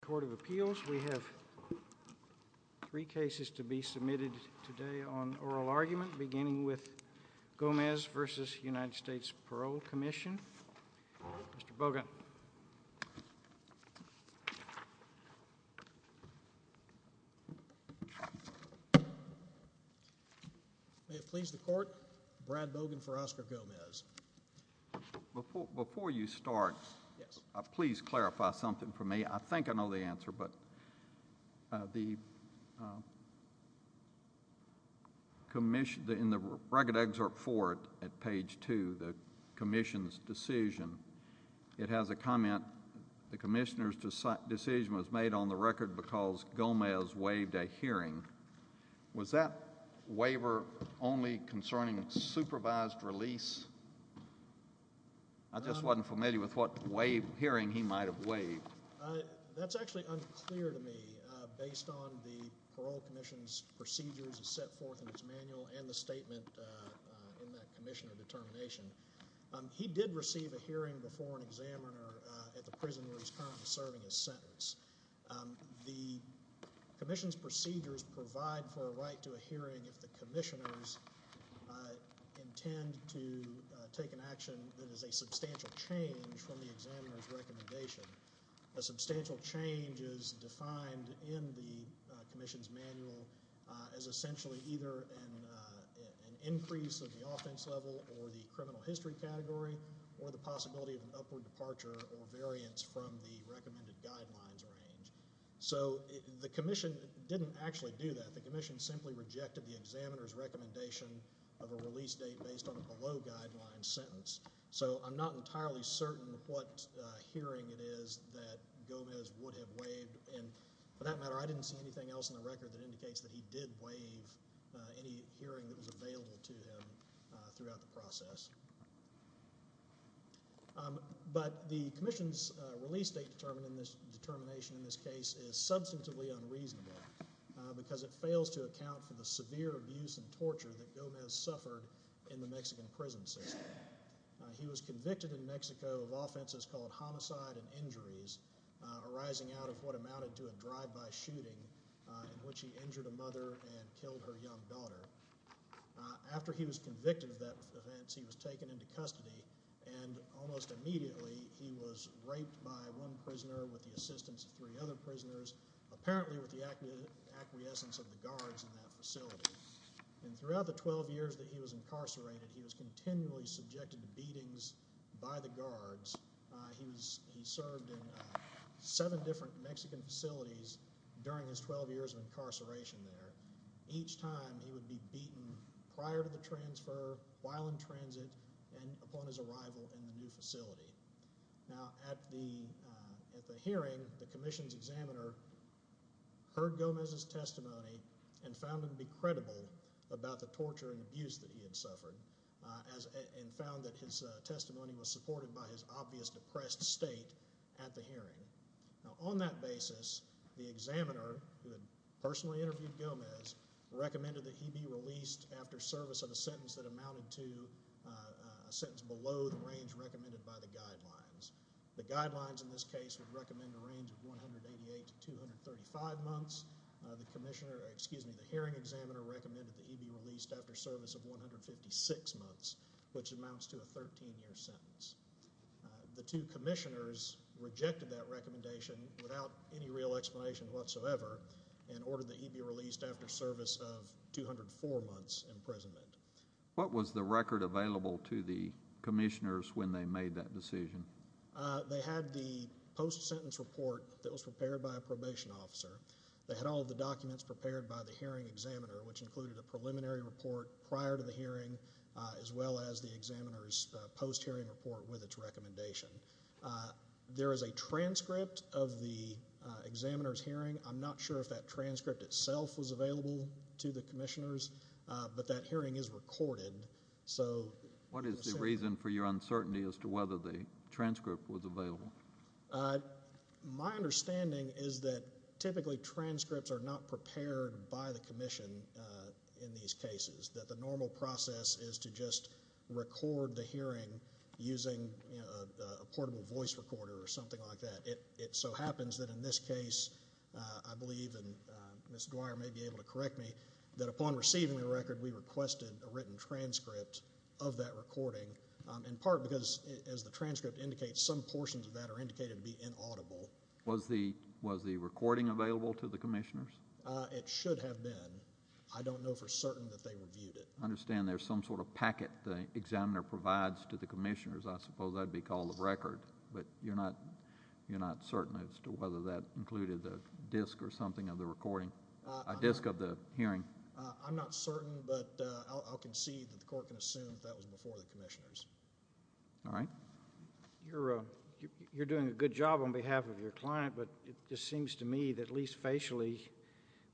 Court of Appeals. We have three cases to be submitted today on oral argument beginning with Gomez v. US Parole Commission. Mr. Bogan. May it please the court, Brad Bogan for Oscar Gomez. Before you start, please clarify something for me. I think I know the answer, but in the record excerpt for it at page two, the commission's decision, it has a comment, the commissioner's decision was made on the record because Gomez waived a hearing. Was that waiver only concerning supervised release? I just wasn't familiar with what hearing he might have waived. That's actually unclear to me based on the parole commission's procedures set forth in its manual and the statement in that commissioner determination. He did receive a hearing before an examiner at the prison where he's currently serving his sentence. The commission's procedures provide for a right to a hearing if the commissioners intend to take an action that is a substantial change from the examiner's recommendation. A substantial change is defined in the commission's manual as essentially either an increase of the offense level or the criminal history category or the possibility of an upward guidelines range. So the commission didn't actually do that. The commission simply rejected the examiner's recommendation of a release date based on the below guidelines sentence. So I'm not entirely certain what hearing it is that Gomez would have waived and for that matter, I didn't see anything else in the record that indicates that he did waive any hearing that was determined in this case is substantively unreasonable because it fails to account for the severe abuse and torture that Gomez suffered in the Mexican prison system. He was convicted in Mexico of offenses called homicide and injuries arising out of what amounted to a drive-by shooting in which he injured a mother and killed her young daughter. After he was convicted of that offense, he was taken into custody and almost immediately he was raped by one prisoner with the assistance of three other prisoners, apparently with the acquiescence of the guards in that facility. And throughout the 12 years that he was incarcerated, he was continually subjected to beatings by the guards. He served in seven different Mexican facilities during his 12 years of incarceration there. Each time he would be beaten prior to the transfer, while in transit, and upon his arrival in the new facility. Now at the hearing, the commission's examiner heard Gomez's testimony and found him to be credible about the torture and abuse that he had suffered and found that his testimony was supported by his obvious depressed state at the hearing. Now on that basis, the examiner, who had personally interviewed Gomez, recommended that he be released after service of a sentence that amounted to a sentence below the range recommended by the guidelines. The guidelines in this case would recommend a range of 188 to 235 months. The hearing examiner recommended that he be released after service of 156 months, which amounts to a 13-year sentence. The two commissioners rejected that recommendation without any real explanation whatsoever and ordered that he be released after service of 204 months imprisonment. What was the record available to the commissioners when they made that decision? They had the post-sentence report that was prepared by a probation officer. They had all the documents prepared by the hearing examiner, which included a preliminary report prior to the hearing, as well as the examiner's post-hearing report with its recommendation. There is a transcript of the examiner's hearing. I'm not sure if that transcript itself was available to the commissioners, but that hearing is recorded. So what is the reason for your uncertainty as to whether the transcript was available? My understanding is that typically transcripts are not prepared by the commission in these cases, that the normal process is to just a portable voice recorder or something like that. It so happens that in this case, I believe, and Ms. Dwyer may be able to correct me, that upon receiving the record, we requested a written transcript of that recording, in part because, as the transcript indicates, some portions of that are indicated to be inaudible. Was the recording available to the commissioners? It should have been. I don't know for certain that they reviewed it. I understand there's some sort of packet the examiner provides to the commissioners. I suppose that would be called a record, but you're not certain as to whether that included a disc or something of the recording, a disc of the hearing. I'm not certain, but I'll concede that the court can assume that was before the commissioners. All right. You're doing a good job on behalf of your client, but it just seems to me that, at least facially,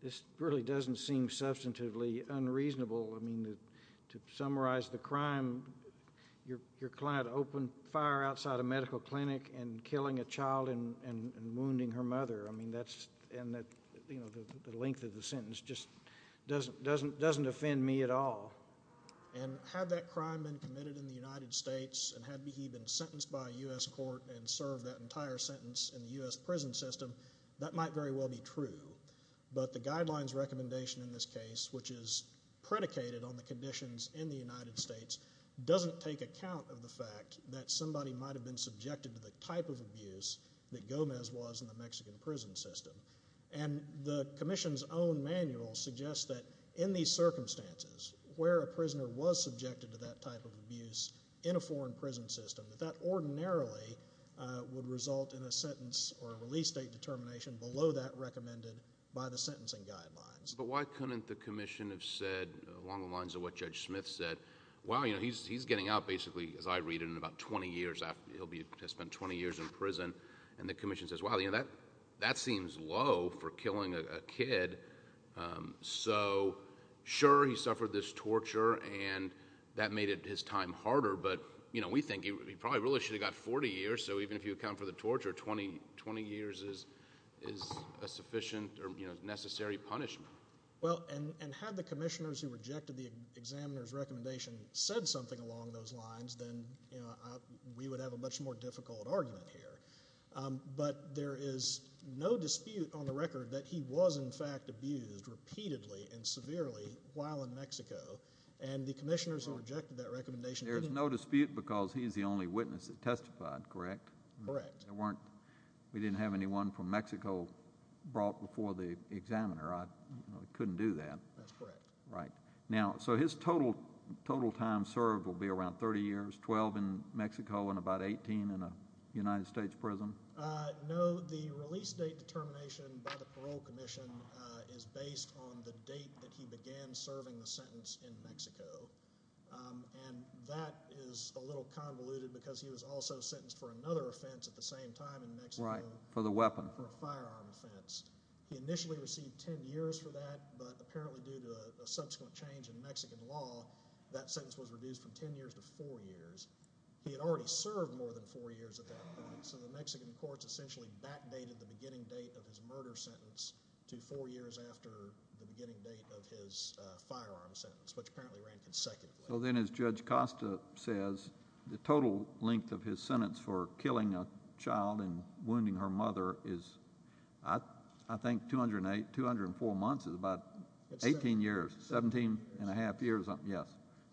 this really doesn't seem substantively unreasonable. I mean, to summarize the crime, your client opened fire outside a medical clinic and killing a child and wounding her mother. I mean, the length of the sentence just doesn't offend me at all. Had that crime been committed in the United States, and had he been sentenced by a U.S. court and served that entire sentence in the U.S. prison system, that might very well be true, but the guidelines recommendation in this case, which is predicated on the conditions in the United States, doesn't take account of the fact that somebody might have been subjected to the type of abuse that Gomez was in the Mexican prison system, and the commission's own manual suggests that, in these circumstances, where a prisoner was subjected to that type of abuse in a foreign prison system, that that ordinarily would result in a sentence or a release date determination below that recommended by the sentencing guidelines. But why couldn't the commission have said, along the lines of what Judge Smith said, wow, you know, he's getting out, basically, as I read it, in about 20 years. He'll have spent 20 years in prison, and the commission says, wow, you know, that seems low for killing a kid. So, sure, he suffered this torture, and that made his time harder, but, you know, we think he probably really should have got 40 years, so even if you account for the torture, 20 years is a sufficient or, you know, necessary punishment. Well, and had the commissioners who rejected the examiner's recommendation said something along those lines, then, you know, we would have a much more difficult argument here. But there is no dispute on the record that he was, in fact, abused repeatedly and severely while in Mexico, and the commissioners who rejected that So, it's a question of time. A lot of it was just, you know, the witnesses who witnessed it testified, correct? Correct. There weren't, we didn't have anyone from Mexico brought before the examiner. I couldn't do that. That's correct. Right. Now, so his total time served will be around 30 years, 12 in Mexico, and about 18 in a United States prison? No, the release date determination by the parole commission is based on the date that he began serving the sentence in Mexico, and that is a little convoluted because he was also sentenced for another offense at the same time in Mexico. Right, for the weapon. For a firearm offense. He initially received 10 years for that, but apparently due to a subsequent change in Mexican law, that sentence was reduced from 10 years to four years. He had already served more than four years at that point, so the Mexican courts essentially backdated the beginning date of his murder sentence to four years after the beginning date of his firearm sentence, which apparently ran consecutively. So then, as Judge Costa says, the total length of his sentence for killing a child and wounding her mother is, I think, 204 months is about 18 years, 17 and a half years. Yes,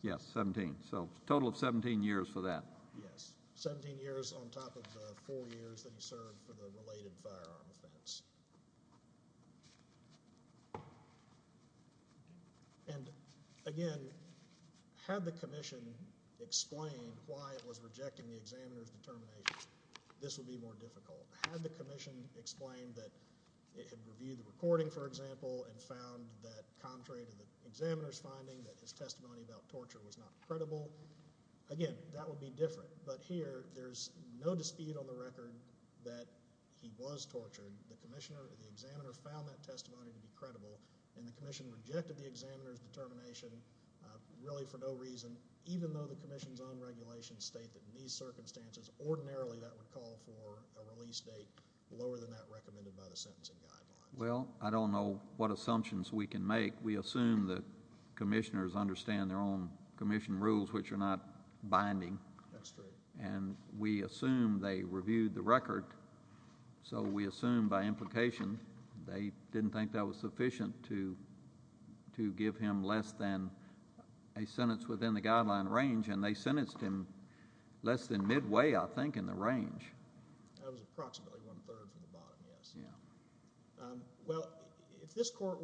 yes, 17. So total of 17 years for that. Yes, 17 years on top of the four years that he served for the related firearm offense. And again, had the commission explain why it was rejecting the examiner's determination, this would be more difficult. Had the commission explained that it had reviewed the recording, for example, and found that contrary to the examiner's finding, that his testimony about torture was not credible, again, that would be different. But here, there's no dispute on the record that he was tortured. The commissioner, the examiner found that testimony to be credible, and the commission rejected the examiner's determination, really for no reason, even though the commission's own regulations state that in these circumstances, ordinarily, that would call for a release date lower than that recommended by the sentencing guidelines. Well, I don't know what assumptions we can make. We assume that commissioners understand their own commission rules, which are not binding. That's true. And we assume they reviewed the record, so we assume by implication, they didn't think that was sufficient to give him less than a sentence within the guideline range, and they sentenced him less than midway, I think, in the case. Well, this court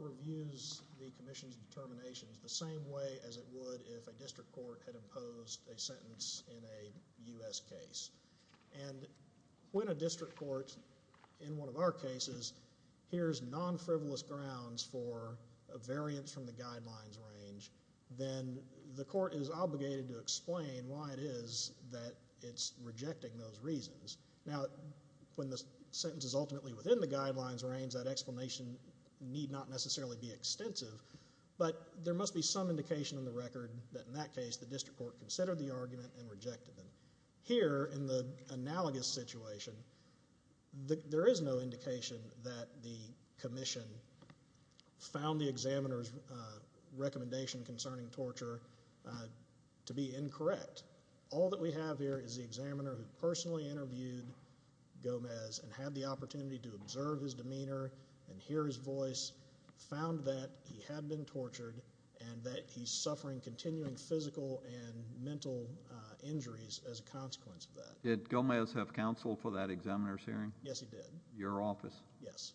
reviews the commission's determinations the same way as it would if a district court had imposed a sentence in a U.S. case. And when a district court, in one of our cases, hears non-frivolous grounds for a variance from the guidelines range, then the court is obligated to explain why it is that it's rejecting those reasons. Now, when the sentence is ultimately within the guidelines range, that explanation need not necessarily be extensive, but there must be some indication in the record that in that case, the district court considered the argument and rejected them. Here, in the analogous situation, there is no indication that the commission found the examiner's recommendation concerning torture to be incorrect. All that we have here is the examiner who personally interviewed Gomez and had the opportunity to observe his demeanor and hear his voice, found that he had been tortured and that he's suffering continuing physical and mental injuries as a consequence of that. Did Gomez have counsel for that examiner's hearing? Yes, he did. Your office? Yes.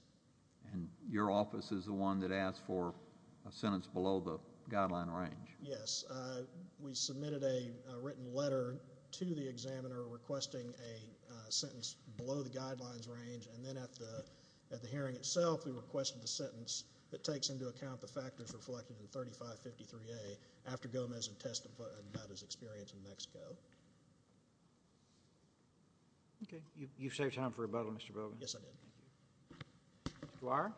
And your office is the one that asked for a sentence below the guideline range? Yes. We submitted a written letter to the examiner requesting a sentence below the guidelines range, and then at the hearing itself, we requested the sentence that takes into account the factors reflected in 3553A after Gomez had testified about his experience in Mexico. Okay, you've saved time for rebuttal, Mr. Bowman. Yes, I did. Mr. Duar?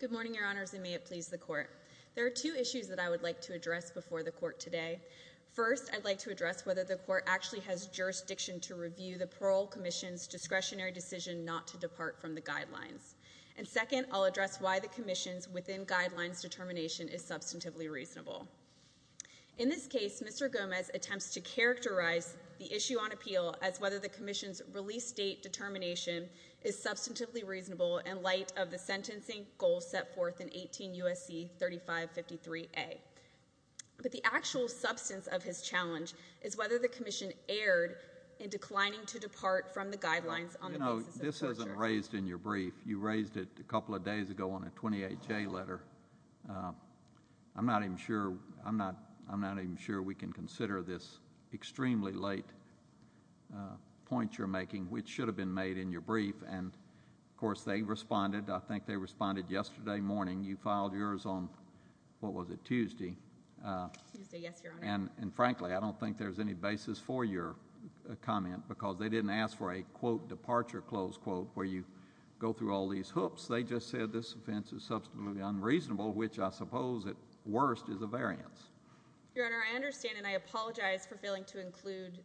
Good morning, Your Honors, and may it please the Court. There are two issues that I would like to address. First, I'll address why the commission's within guidelines determination is substantively reasonable. In this case, Mr. Gomez attempts to characterize the issue on appeal as whether the commission's release date determination is substantively reasonable in light of the sentencing goal set forth in 18 U.S.C. 3553A. But the actual substance of his challenge is whether the commission erred in declining to depart from the guidelines. You know, this isn't raised in your brief. You raised it a couple of days ago on a 28J letter. I'm not even sure we can consider this extremely late point you're making, which should have been made in your brief, and, of course, I think they responded yesterday morning. You filed yours on, what was it, Tuesday? Tuesday, yes, Your Honor. And, frankly, I don't think there's any basis for your comment because they didn't ask for a, quote, departure, close quote, where you go through all these hoops. They just said this offense is substantively unreasonable, which I suppose at worst is a variance. Your Honor, I understand, and I apologize for failing to include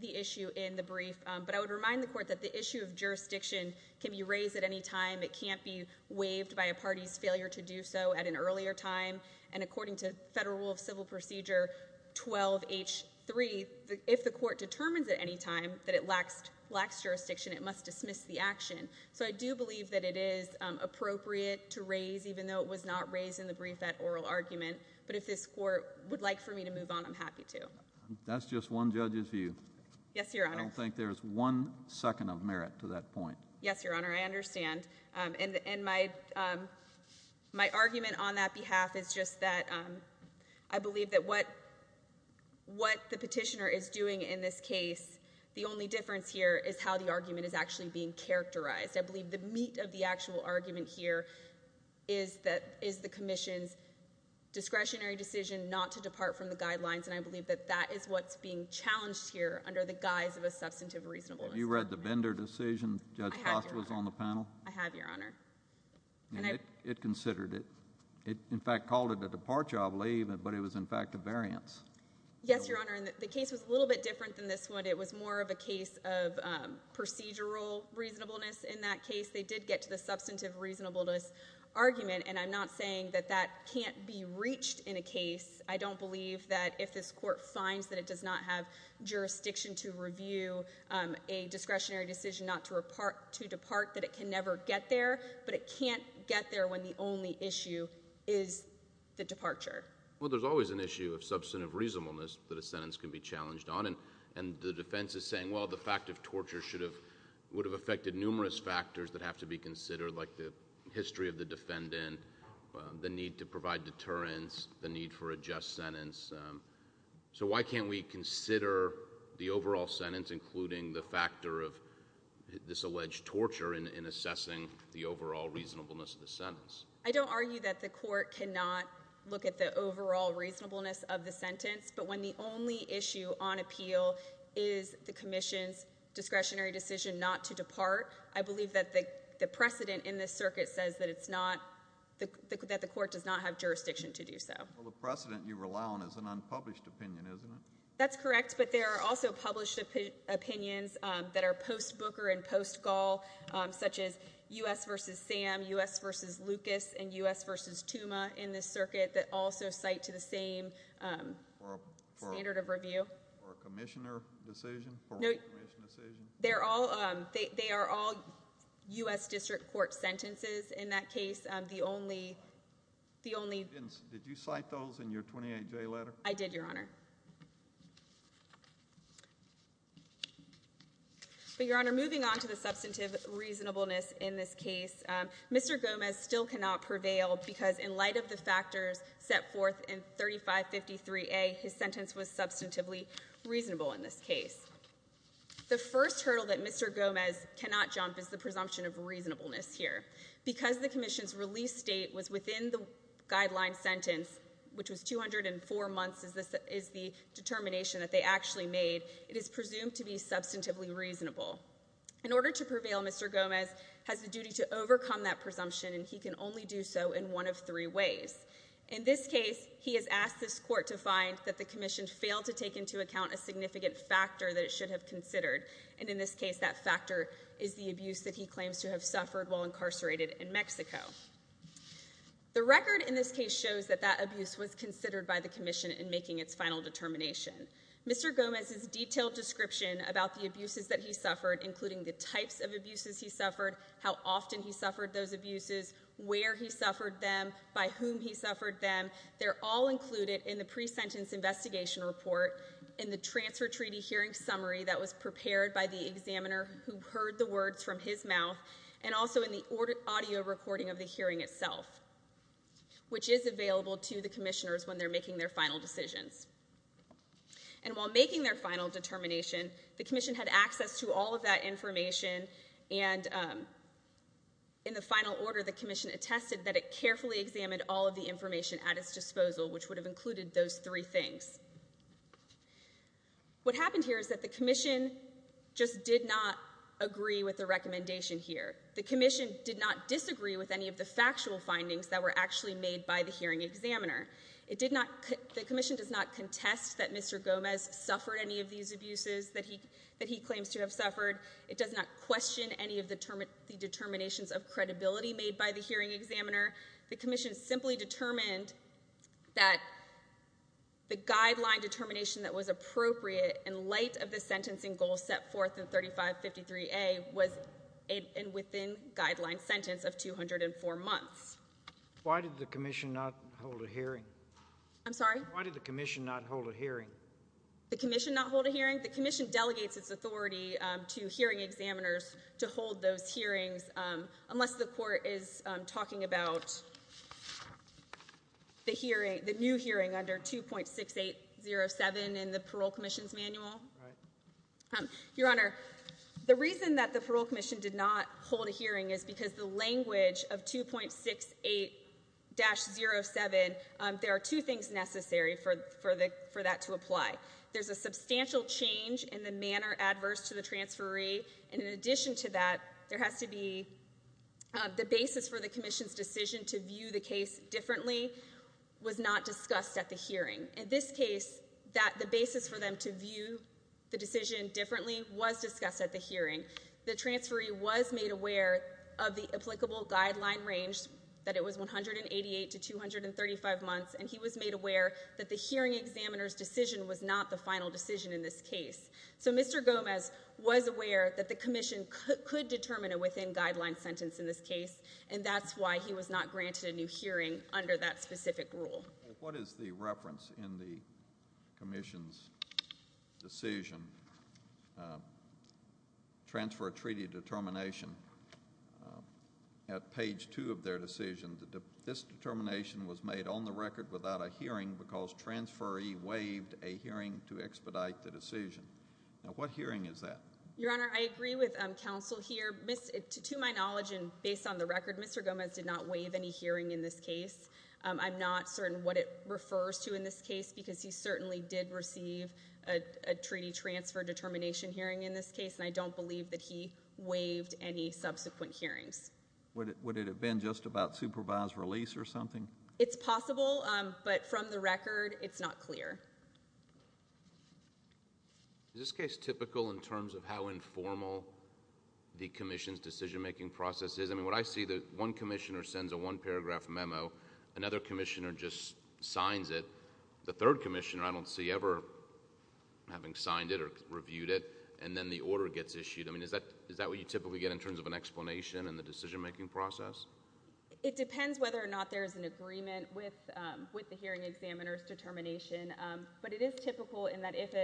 the issue in the brief, but I would remind the Court that the issue of jurisdiction can be raised at any time. It can't be waived by a party's failure to do so at an earlier time. And according to Federal Rule of Civil Procedure 12H3, if the Court determines at any time that it lacks jurisdiction, it must dismiss the action. So I do believe that it is appropriate to raise, even though it was not raised in the brief, that oral argument. But if this Court would like for me to move on, I'm happy to. That's just one judge's view. Yes, Your Honor. I don't think one second of merit to that point. Yes, Your Honor, I understand. And my argument on that behalf is just that I believe that what the petitioner is doing in this case, the only difference here is how the argument is actually being characterized. I believe the meat of the actual argument here is the Commission's discretionary decision not to depart from the guidelines, and I believe that that is what's being challenged here under the guise of a substantive reasonableness argument. Have you read the Bender decision? Judge Post was on the panel. I have, Your Honor. And it considered it. It, in fact, called it a departure, I believe, but it was in fact a variance. Yes, Your Honor, and the case was a little bit different than this one. It was more of a case of procedural reasonableness in that case. They did get to the substantive reasonableness argument, and I'm not saying that that can't be reached in a case. I don't believe that if this Court finds that it does not have jurisdiction to review a discretionary decision not to depart, that it can never get there, but it can't get there when the only issue is the departure. Well, there's always an issue of substantive reasonableness that a sentence can be challenged on, and the defense is saying, well, the fact of torture would have affected numerous factors that have to be considered, like the history of the defendant, the need to provide deterrence, the need for a just sentence. So why can't we consider the overall sentence, including the factor of this alleged torture, in assessing the overall reasonableness of the sentence? I don't argue that the Court cannot look at the overall reasonableness of the sentence, but when the only issue on appeal is the Commission's discretionary decision not to depart, that the Court does not have jurisdiction to do so. Well, the precedent you rely on is an unpublished opinion, isn't it? That's correct, but there are also published opinions that are post-Booker and post-Gaul, such as U.S. v. Sam, U.S. v. Lucas, and U.S. v. Tuma in this circuit that also cite to the same standard of review. Or a Commissioner decision? No, they are all U.S. District Court sentences in that case. Did you cite those in your 28J letter? I did, Your Honor. But, Your Honor, moving on to the substantive reasonableness in this case, Mr. Gomez still cannot prevail because in light of the factors set forth in 3553A, his sentence was substantively reasonable in this case. The first hurdle that Mr. Gomez cannot jump is the presumption of reasonableness here. Because the Commission's release date was within the guideline sentence, which was 204 months, is the determination that they actually made, it is presumed to be substantively reasonable. In order to prevail, Mr. Gomez has the duty to overcome that presumption, and he can only do so in one of three ways. In this case, he has asked this Court to find that the Commission failed to take into account a significant factor that it should have considered. And in this case, that factor is the abuse that he claims to have suffered while incarcerated in Mexico. The record in this case shows that that abuse was considered by the Commission in making its final determination. Mr. Gomez's detailed description about the abuses that he suffered, including the types of abuses he suffered, how often he suffered those abuses, where he suffered them, by whom he suffered them, they're all included in the pre-sentence investigation report in the Transfer Treaty Hearing Summary that was prepared by the examiner who heard the words from his mouth, and also in the audio recording of the hearing itself, which is available to the Commissioners when they're making their final decisions. And while making their final determination, the Commission had access to all of that information, and in the final order, the Commission attested that it carefully examined all of the information at its disposal, which would have included those three things. What happened here is that the Commission just did not agree with the recommendation here. The Commission did not disagree with any of the factual findings that were actually made by the hearing examiner. It did not, the Commission does not contest that Mr. Gomez suffered any of these abuses that he claims to have suffered. It does not question any of the determinations of credibility made by the hearing examiner. The Commission simply determined that the guideline determination that was appropriate in light of the sentencing goal set forth in 3553A was within guideline sentence of 204 months. Why did the Commission not hold a hearing? I'm sorry? Why did the Commission not hold a hearing? The Commission not hold a hearing? The Commission delegates its authority to hearing examiners to hold those hearings, unless the Court is talking about the hearing, the new hearing under 2.6807 in the Parole Commission's manual. Your Honor, the reason that the Parole Commission did not hold a hearing is because the language of 2.68-07, there are two things necessary for that to apply. There's a substantial change in the manner adverse to the transferee, and in addition to that, there has to be, the basis for the Commission's decision to view the case differently was not discussed at the hearing. In this case, the basis for them to view the decision differently was discussed at the hearing. The transferee was made aware of the applicable guideline range, that it was 188 to 235 months, and he was made aware that the hearing examiner's decision was not the final decision in this case. So Mr. Gomez was aware that the Commission could determine a within-guideline sentence in this case, and that's why he was not granted a new hearing under that specific rule. What is the reference in the Commission's decision, Transfer Treaty Determination, at page two of their decision, that this determination was made on the record without a hearing because transferee waived a hearing to expedite the decision? Now, what hearing is that? Your Honor, I agree with counsel here. To my knowledge and based on the record, Mr. Gomez did not waive any hearing in this case. I'm not certain what it refers to in this case because he certainly did receive a treaty transfer determination hearing in this case, and I don't believe that he waived any subsequent hearings. Would it have been just about supervised release or something? It's possible, but from the record, it's not clear. Is this case typical in terms of how informal the Commission's decision-making process is? I mean, what I see, one Commissioner sends a one-paragraph memo, another Commissioner just signs it, the third Commissioner I don't see ever having signed it or reviewed it, and then the order gets issued. I mean, is that what you typically get in terms of an explanation in the decision-making process? It depends whether or not there's an agreement with the hearing examiner's determination, but it is typical in that if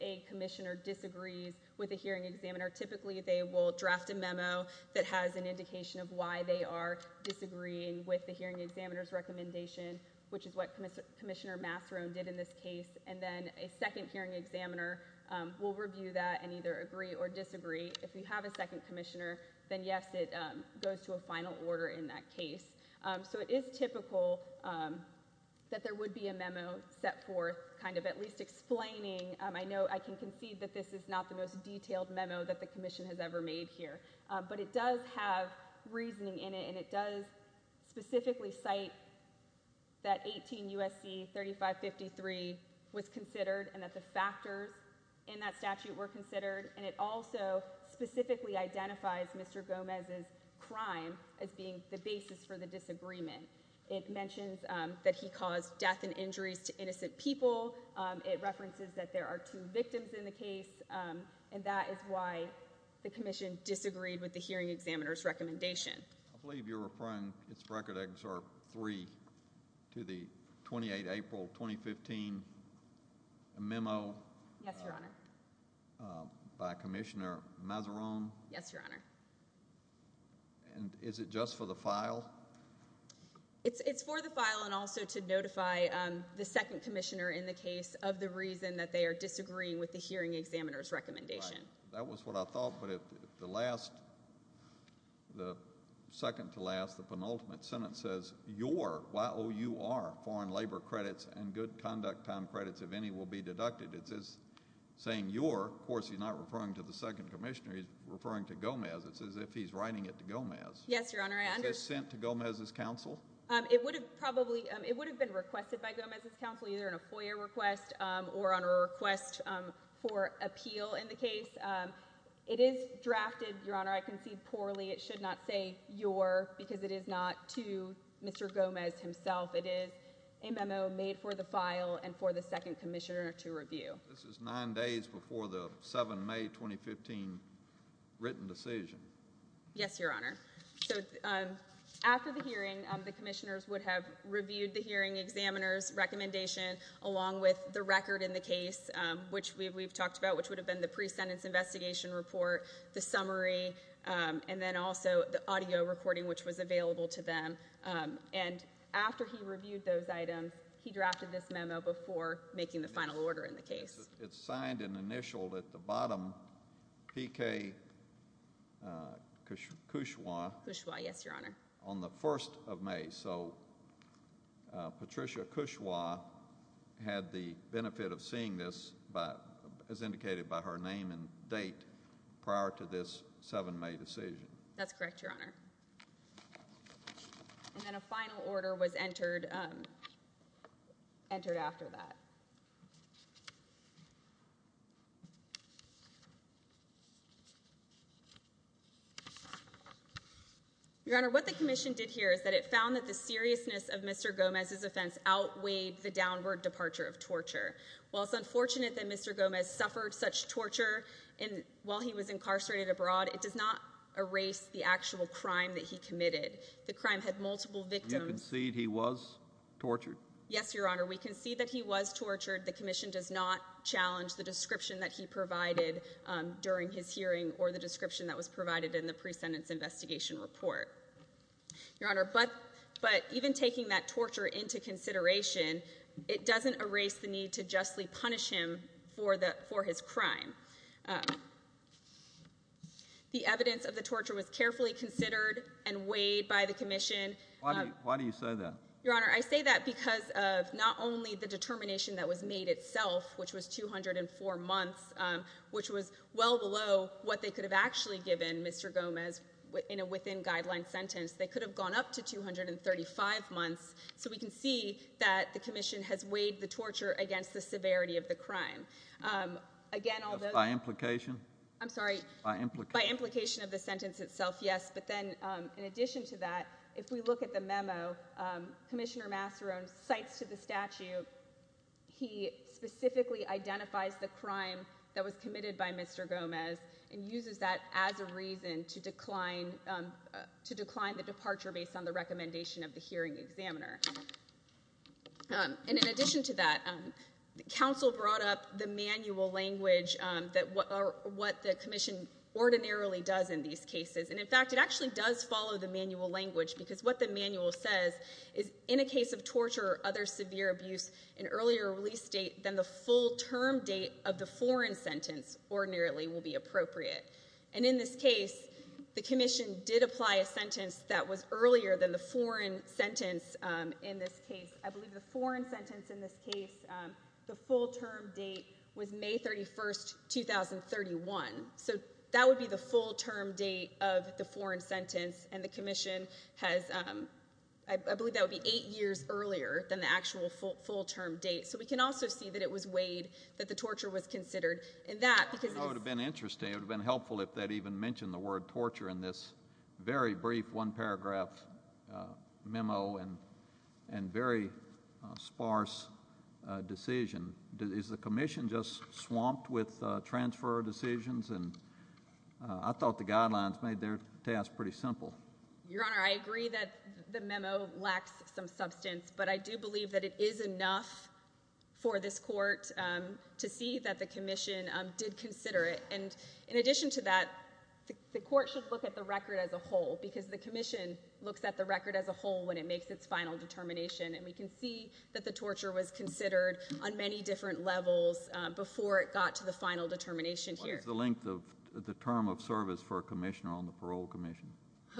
a Commissioner disagrees with a hearing examiner, typically they will draft a memo that has an indication of why they are disagreeing with the hearing examiner's recommendation, which is what Commissioner Masseron did in this case, and then a second hearing examiner will review that and either agree or disagree. If you have a second final order in that case, so it is typical that there would be a memo set forth kind of at least explaining. I know I can concede that this is not the most detailed memo that the Commission has ever made here, but it does have reasoning in it, and it does specifically cite that 18 USC 3553 was considered and that the factors in that statute were considered, and it also specifically identifies Mr. Gomez's crime as being the basis for the disagreement. It mentions that he caused death and injuries to innocent people. It references that there are two victims in the case, and that is why the Commission disagreed with the hearing examiner's recommendation. I believe you're referring its record excerpt 3 to the 28 April 2015 memo yes your honor by Commissioner Masseron yes your honor and is it just for the file it's it's for the file and also to notify the second commissioner in the case of the reason that they are disagreeing with the hearing examiner's recommendation that was what I thought but if the last the second to last the penultimate sentence says your wow you are foreign labor credits and good conduct time credits if any will be deducted it says saying you're of course he's not referring to the second commissioner he's referring to Gomez it's as if he's writing it to Gomez yes your honor I understand to Gomez's counsel um it would have probably it would have been requested by Gomez's counsel either in a foyer request or on a request for appeal in the case it is drafted your honor I concede poorly it should not say your because it is not to Mr. Gomez himself it is a memo made for the file and for the second commissioner to review this is nine days before the 7 May 2015 written decision yes your honor so after the hearing the commissioners would have reviewed the hearing examiner's recommendation along with the record in the case which we've talked about which would have been the pre-sentence report the summary and then also the audio recording which was available to them and after he reviewed those items he drafted this memo before making the final order in the case it's signed and initialed at the bottom pk kush kushwa kushwa yes your honor on the 1st of May so benefit of seeing this but as indicated by her name and date prior to this 7 May decision that's correct your honor and then a final order was entered um entered after that your honor what the commission did here is that it found that the seriousness of Mr. Gomez's while it's unfortunate that Mr. Gomez suffered such torture and while he was incarcerated abroad it does not erase the actual crime that he committed the crime had multiple victims you concede he was tortured yes your honor we concede that he was tortured the commission does not challenge the description that he provided um during his hearing or the description that was provided in the pre-sentence investigation report your honor but but even taking that punish him for the for his crime the evidence of the torture was carefully considered and weighed by the commission why do you say that your honor i say that because of not only the determination that was made itself which was 204 months um which was well below what they could have actually given Mr. Gomez in a within guideline sentence they could have gone up to 235 months so we can see that the of the crime um again although by implication i'm sorry by implication of the sentence itself yes but then um in addition to that if we look at the memo um commissioner masseron cites to the statute he specifically identifies the crime that was committed by Mr. Gomez and uses that as a reason to decline um to decline the departure based on the recommendation of counsel brought up the manual language um that what are what the commission ordinarily does in these cases and in fact it actually does follow the manual language because what the manual says is in a case of torture or other severe abuse an earlier release date than the full term date of the foreign sentence ordinarily will be appropriate and in this case the commission did apply a sentence that was earlier than the foreign sentence um in this case i believe the foreign sentence in this case um the full term date was may 31st 2031 so that would be the full term date of the foreign sentence and the commission has um i believe that would be eight years earlier than the actual full term date so we can also see that it was weighed that the torture was considered in that because it would have been interesting it would have been helpful if that even mentioned the word torture in this very brief one paragraph memo and and very sparse decision is the commission just swamped with transfer decisions and i thought the guidelines made their task pretty simple your honor i agree that the memo lacks some substance but i do believe that it is enough for this court to see that the commission did consider it and in addition to that the court should look at the record as a whole because the commission looks at the record as a whole when it makes its final determination and we can see that the torture was considered on many different levels before it got to the final determination here the length of the term of service for a commissioner on the parole commission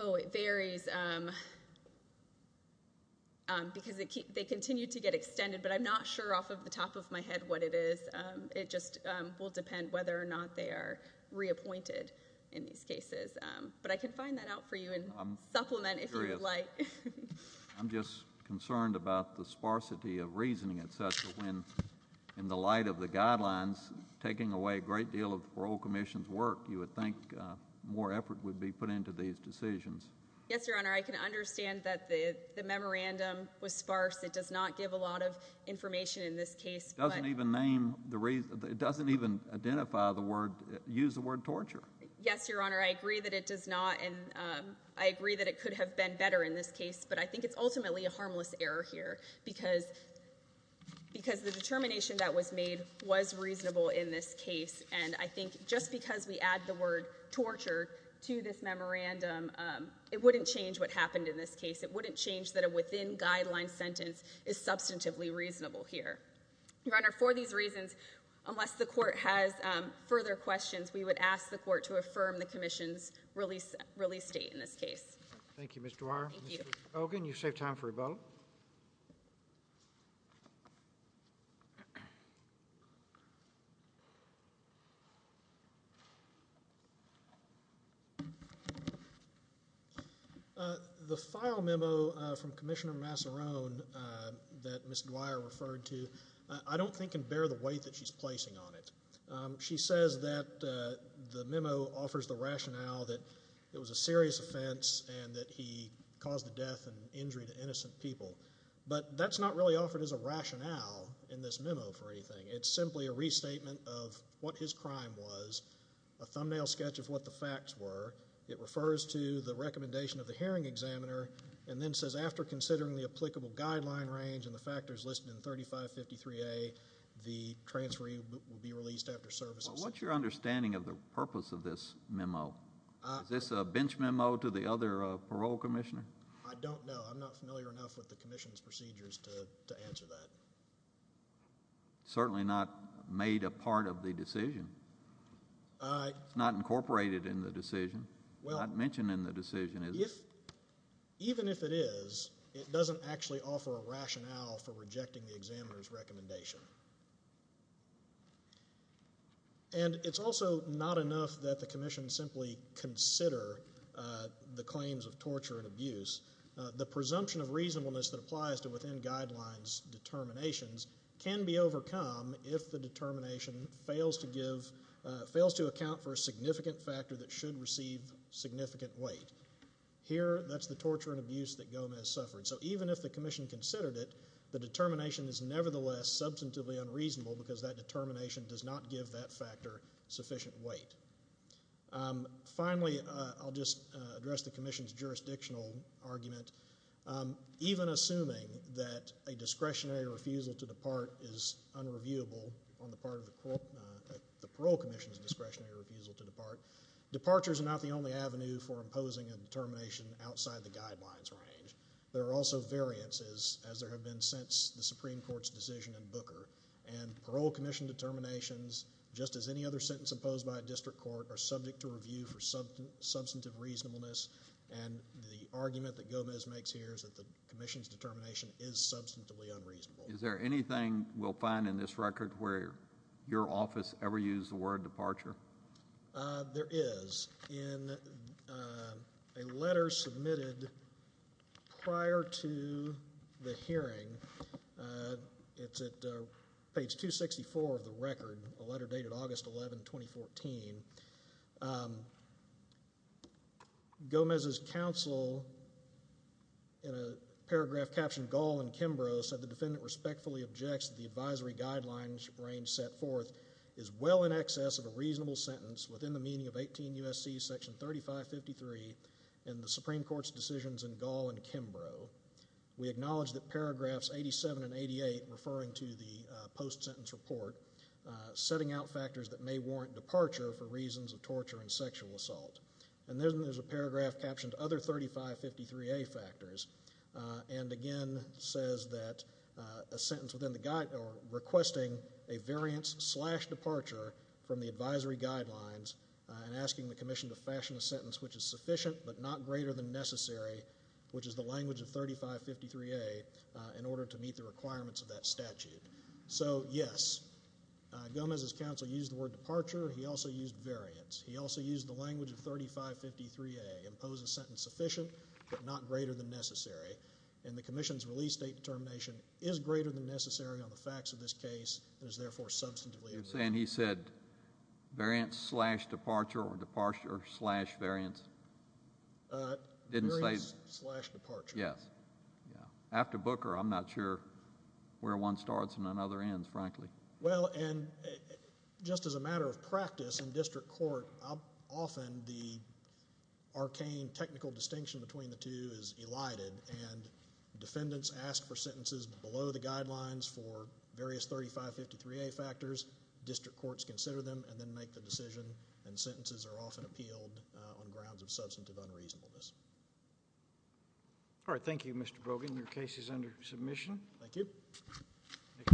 oh it varies um because they keep they continue to get extended but i'm not sure off of the top of my head what it is it just will depend whether or not they are reappointed in these cases but i can find that out for you and supplement if you would like i'm just concerned about the sparsity of reasoning etc when in the light of the guidelines taking away a great deal of parole commission's work you would think more effort would be put into these decisions yes your honor i can understand that the the memorandum was sparse it does not give a lot of information in this case doesn't even name the reason it doesn't even identify the word use the word torture yes your honor i agree that it does not and um i agree that it could have been better in this case but i think it's ultimately a harmless error here because because the determination that was made was reasonable in this case and i think just because we add the word torture to this memorandum um it wouldn't change what happened in this case it wouldn't change that a within guideline sentence is unless the court has um further questions we would ask the court to affirm the commission's release release state in this case thank you mr ogen you save time for a boat uh the file memo from commissioner masseron that miss guire referred to i don't think and bear the weight that she's placing on it she says that the memo offers the rationale that it was a serious offense and that he caused the death and injury to innocent people but that's not really offered as a rationale in this memo for anything it's simply a restatement of what his crime was a thumbnail sketch of what the facts were it refers to the recommendation of the hearing examiner and then says after considering the applicable guideline range and the factors listed in 35 53a the transferee will be released after services what's your understanding of the purpose of this memo is this a bench memo to the other parole commissioner i don't know i'm not familiar with that certainly not made a part of the decision uh not incorporated in the decision well not mentioned in the decision if even if it is it doesn't actually offer a rationale for rejecting the examiner's recommendation and it's also not enough that the commission simply consider the claims of torture and abuse the presumption of reasonableness that applies to within guidelines determinations can be overcome if the determination fails to give fails to account for a significant factor that should receive significant weight here that's the torture and abuse that gomez suffered so even if the commission considered it the determination is nevertheless substantively unreasonable because that determination does not give that factor sufficient weight finally i'll just address the commission's jurisdictional argument even assuming that a discretionary refusal to depart is unreviewable on the part of the court the parole commission's discretionary refusal to depart departures are not the only avenue for imposing a determination outside the guidelines range there are also variances as there have been since the supreme court's decision in booker and parole commission determinations just as any other sentence imposed by a district court are subject to review for substantive reasonableness and the argument that gomez makes here is that the commission's determination is substantively unreasonable is there anything we'll find in this record where your office ever used the word departure there is in a letter submitted prior to the hearing it's at page 264 of the record a letter dated august 11 2014 gomez's counsel in a paragraph captioned gall and kimbrough said the defendant respectfully objects the advisory guidelines range set forth is well in excess of a reasonable sentence within the meaning of 18 usc section 3553 and the supreme court's decisions in gall and kimbrough we acknowledge that paragraphs 87 and 88 referring to the post-sentence report setting out factors that may warrant departure for reasons of torture and sexual assault and then there's a paragraph captioned other 3553a factors and again says that a sentence within the guide or requesting a variance slash departure from the advisory guidelines and asking the commission to fashion a sentence which is sufficient but not greater than necessary which is the language of 3553a in order to meet the requirements of that statute so yes gomez's counsel used the word departure he also used variance he also used the language of 3553a impose a sentence sufficient but not greater than necessary and the commission's release date determination is greater than necessary on the facts of this case and is therefore substantively you're saying he said variance slash departure or departure slash variance uh didn't say slash departure yes yeah after booker i'm not sure where one starts and another ends frankly well and just as a matter of practice in district court often the arcane technical distinction between the two is elided and defendants ask for sentences below the guidelines for various 3553a factors district courts consider them and then make the decision and sentences are often appealed on grounds of substantive unreasonableness all right thank you mr brogan your case is under submission thank you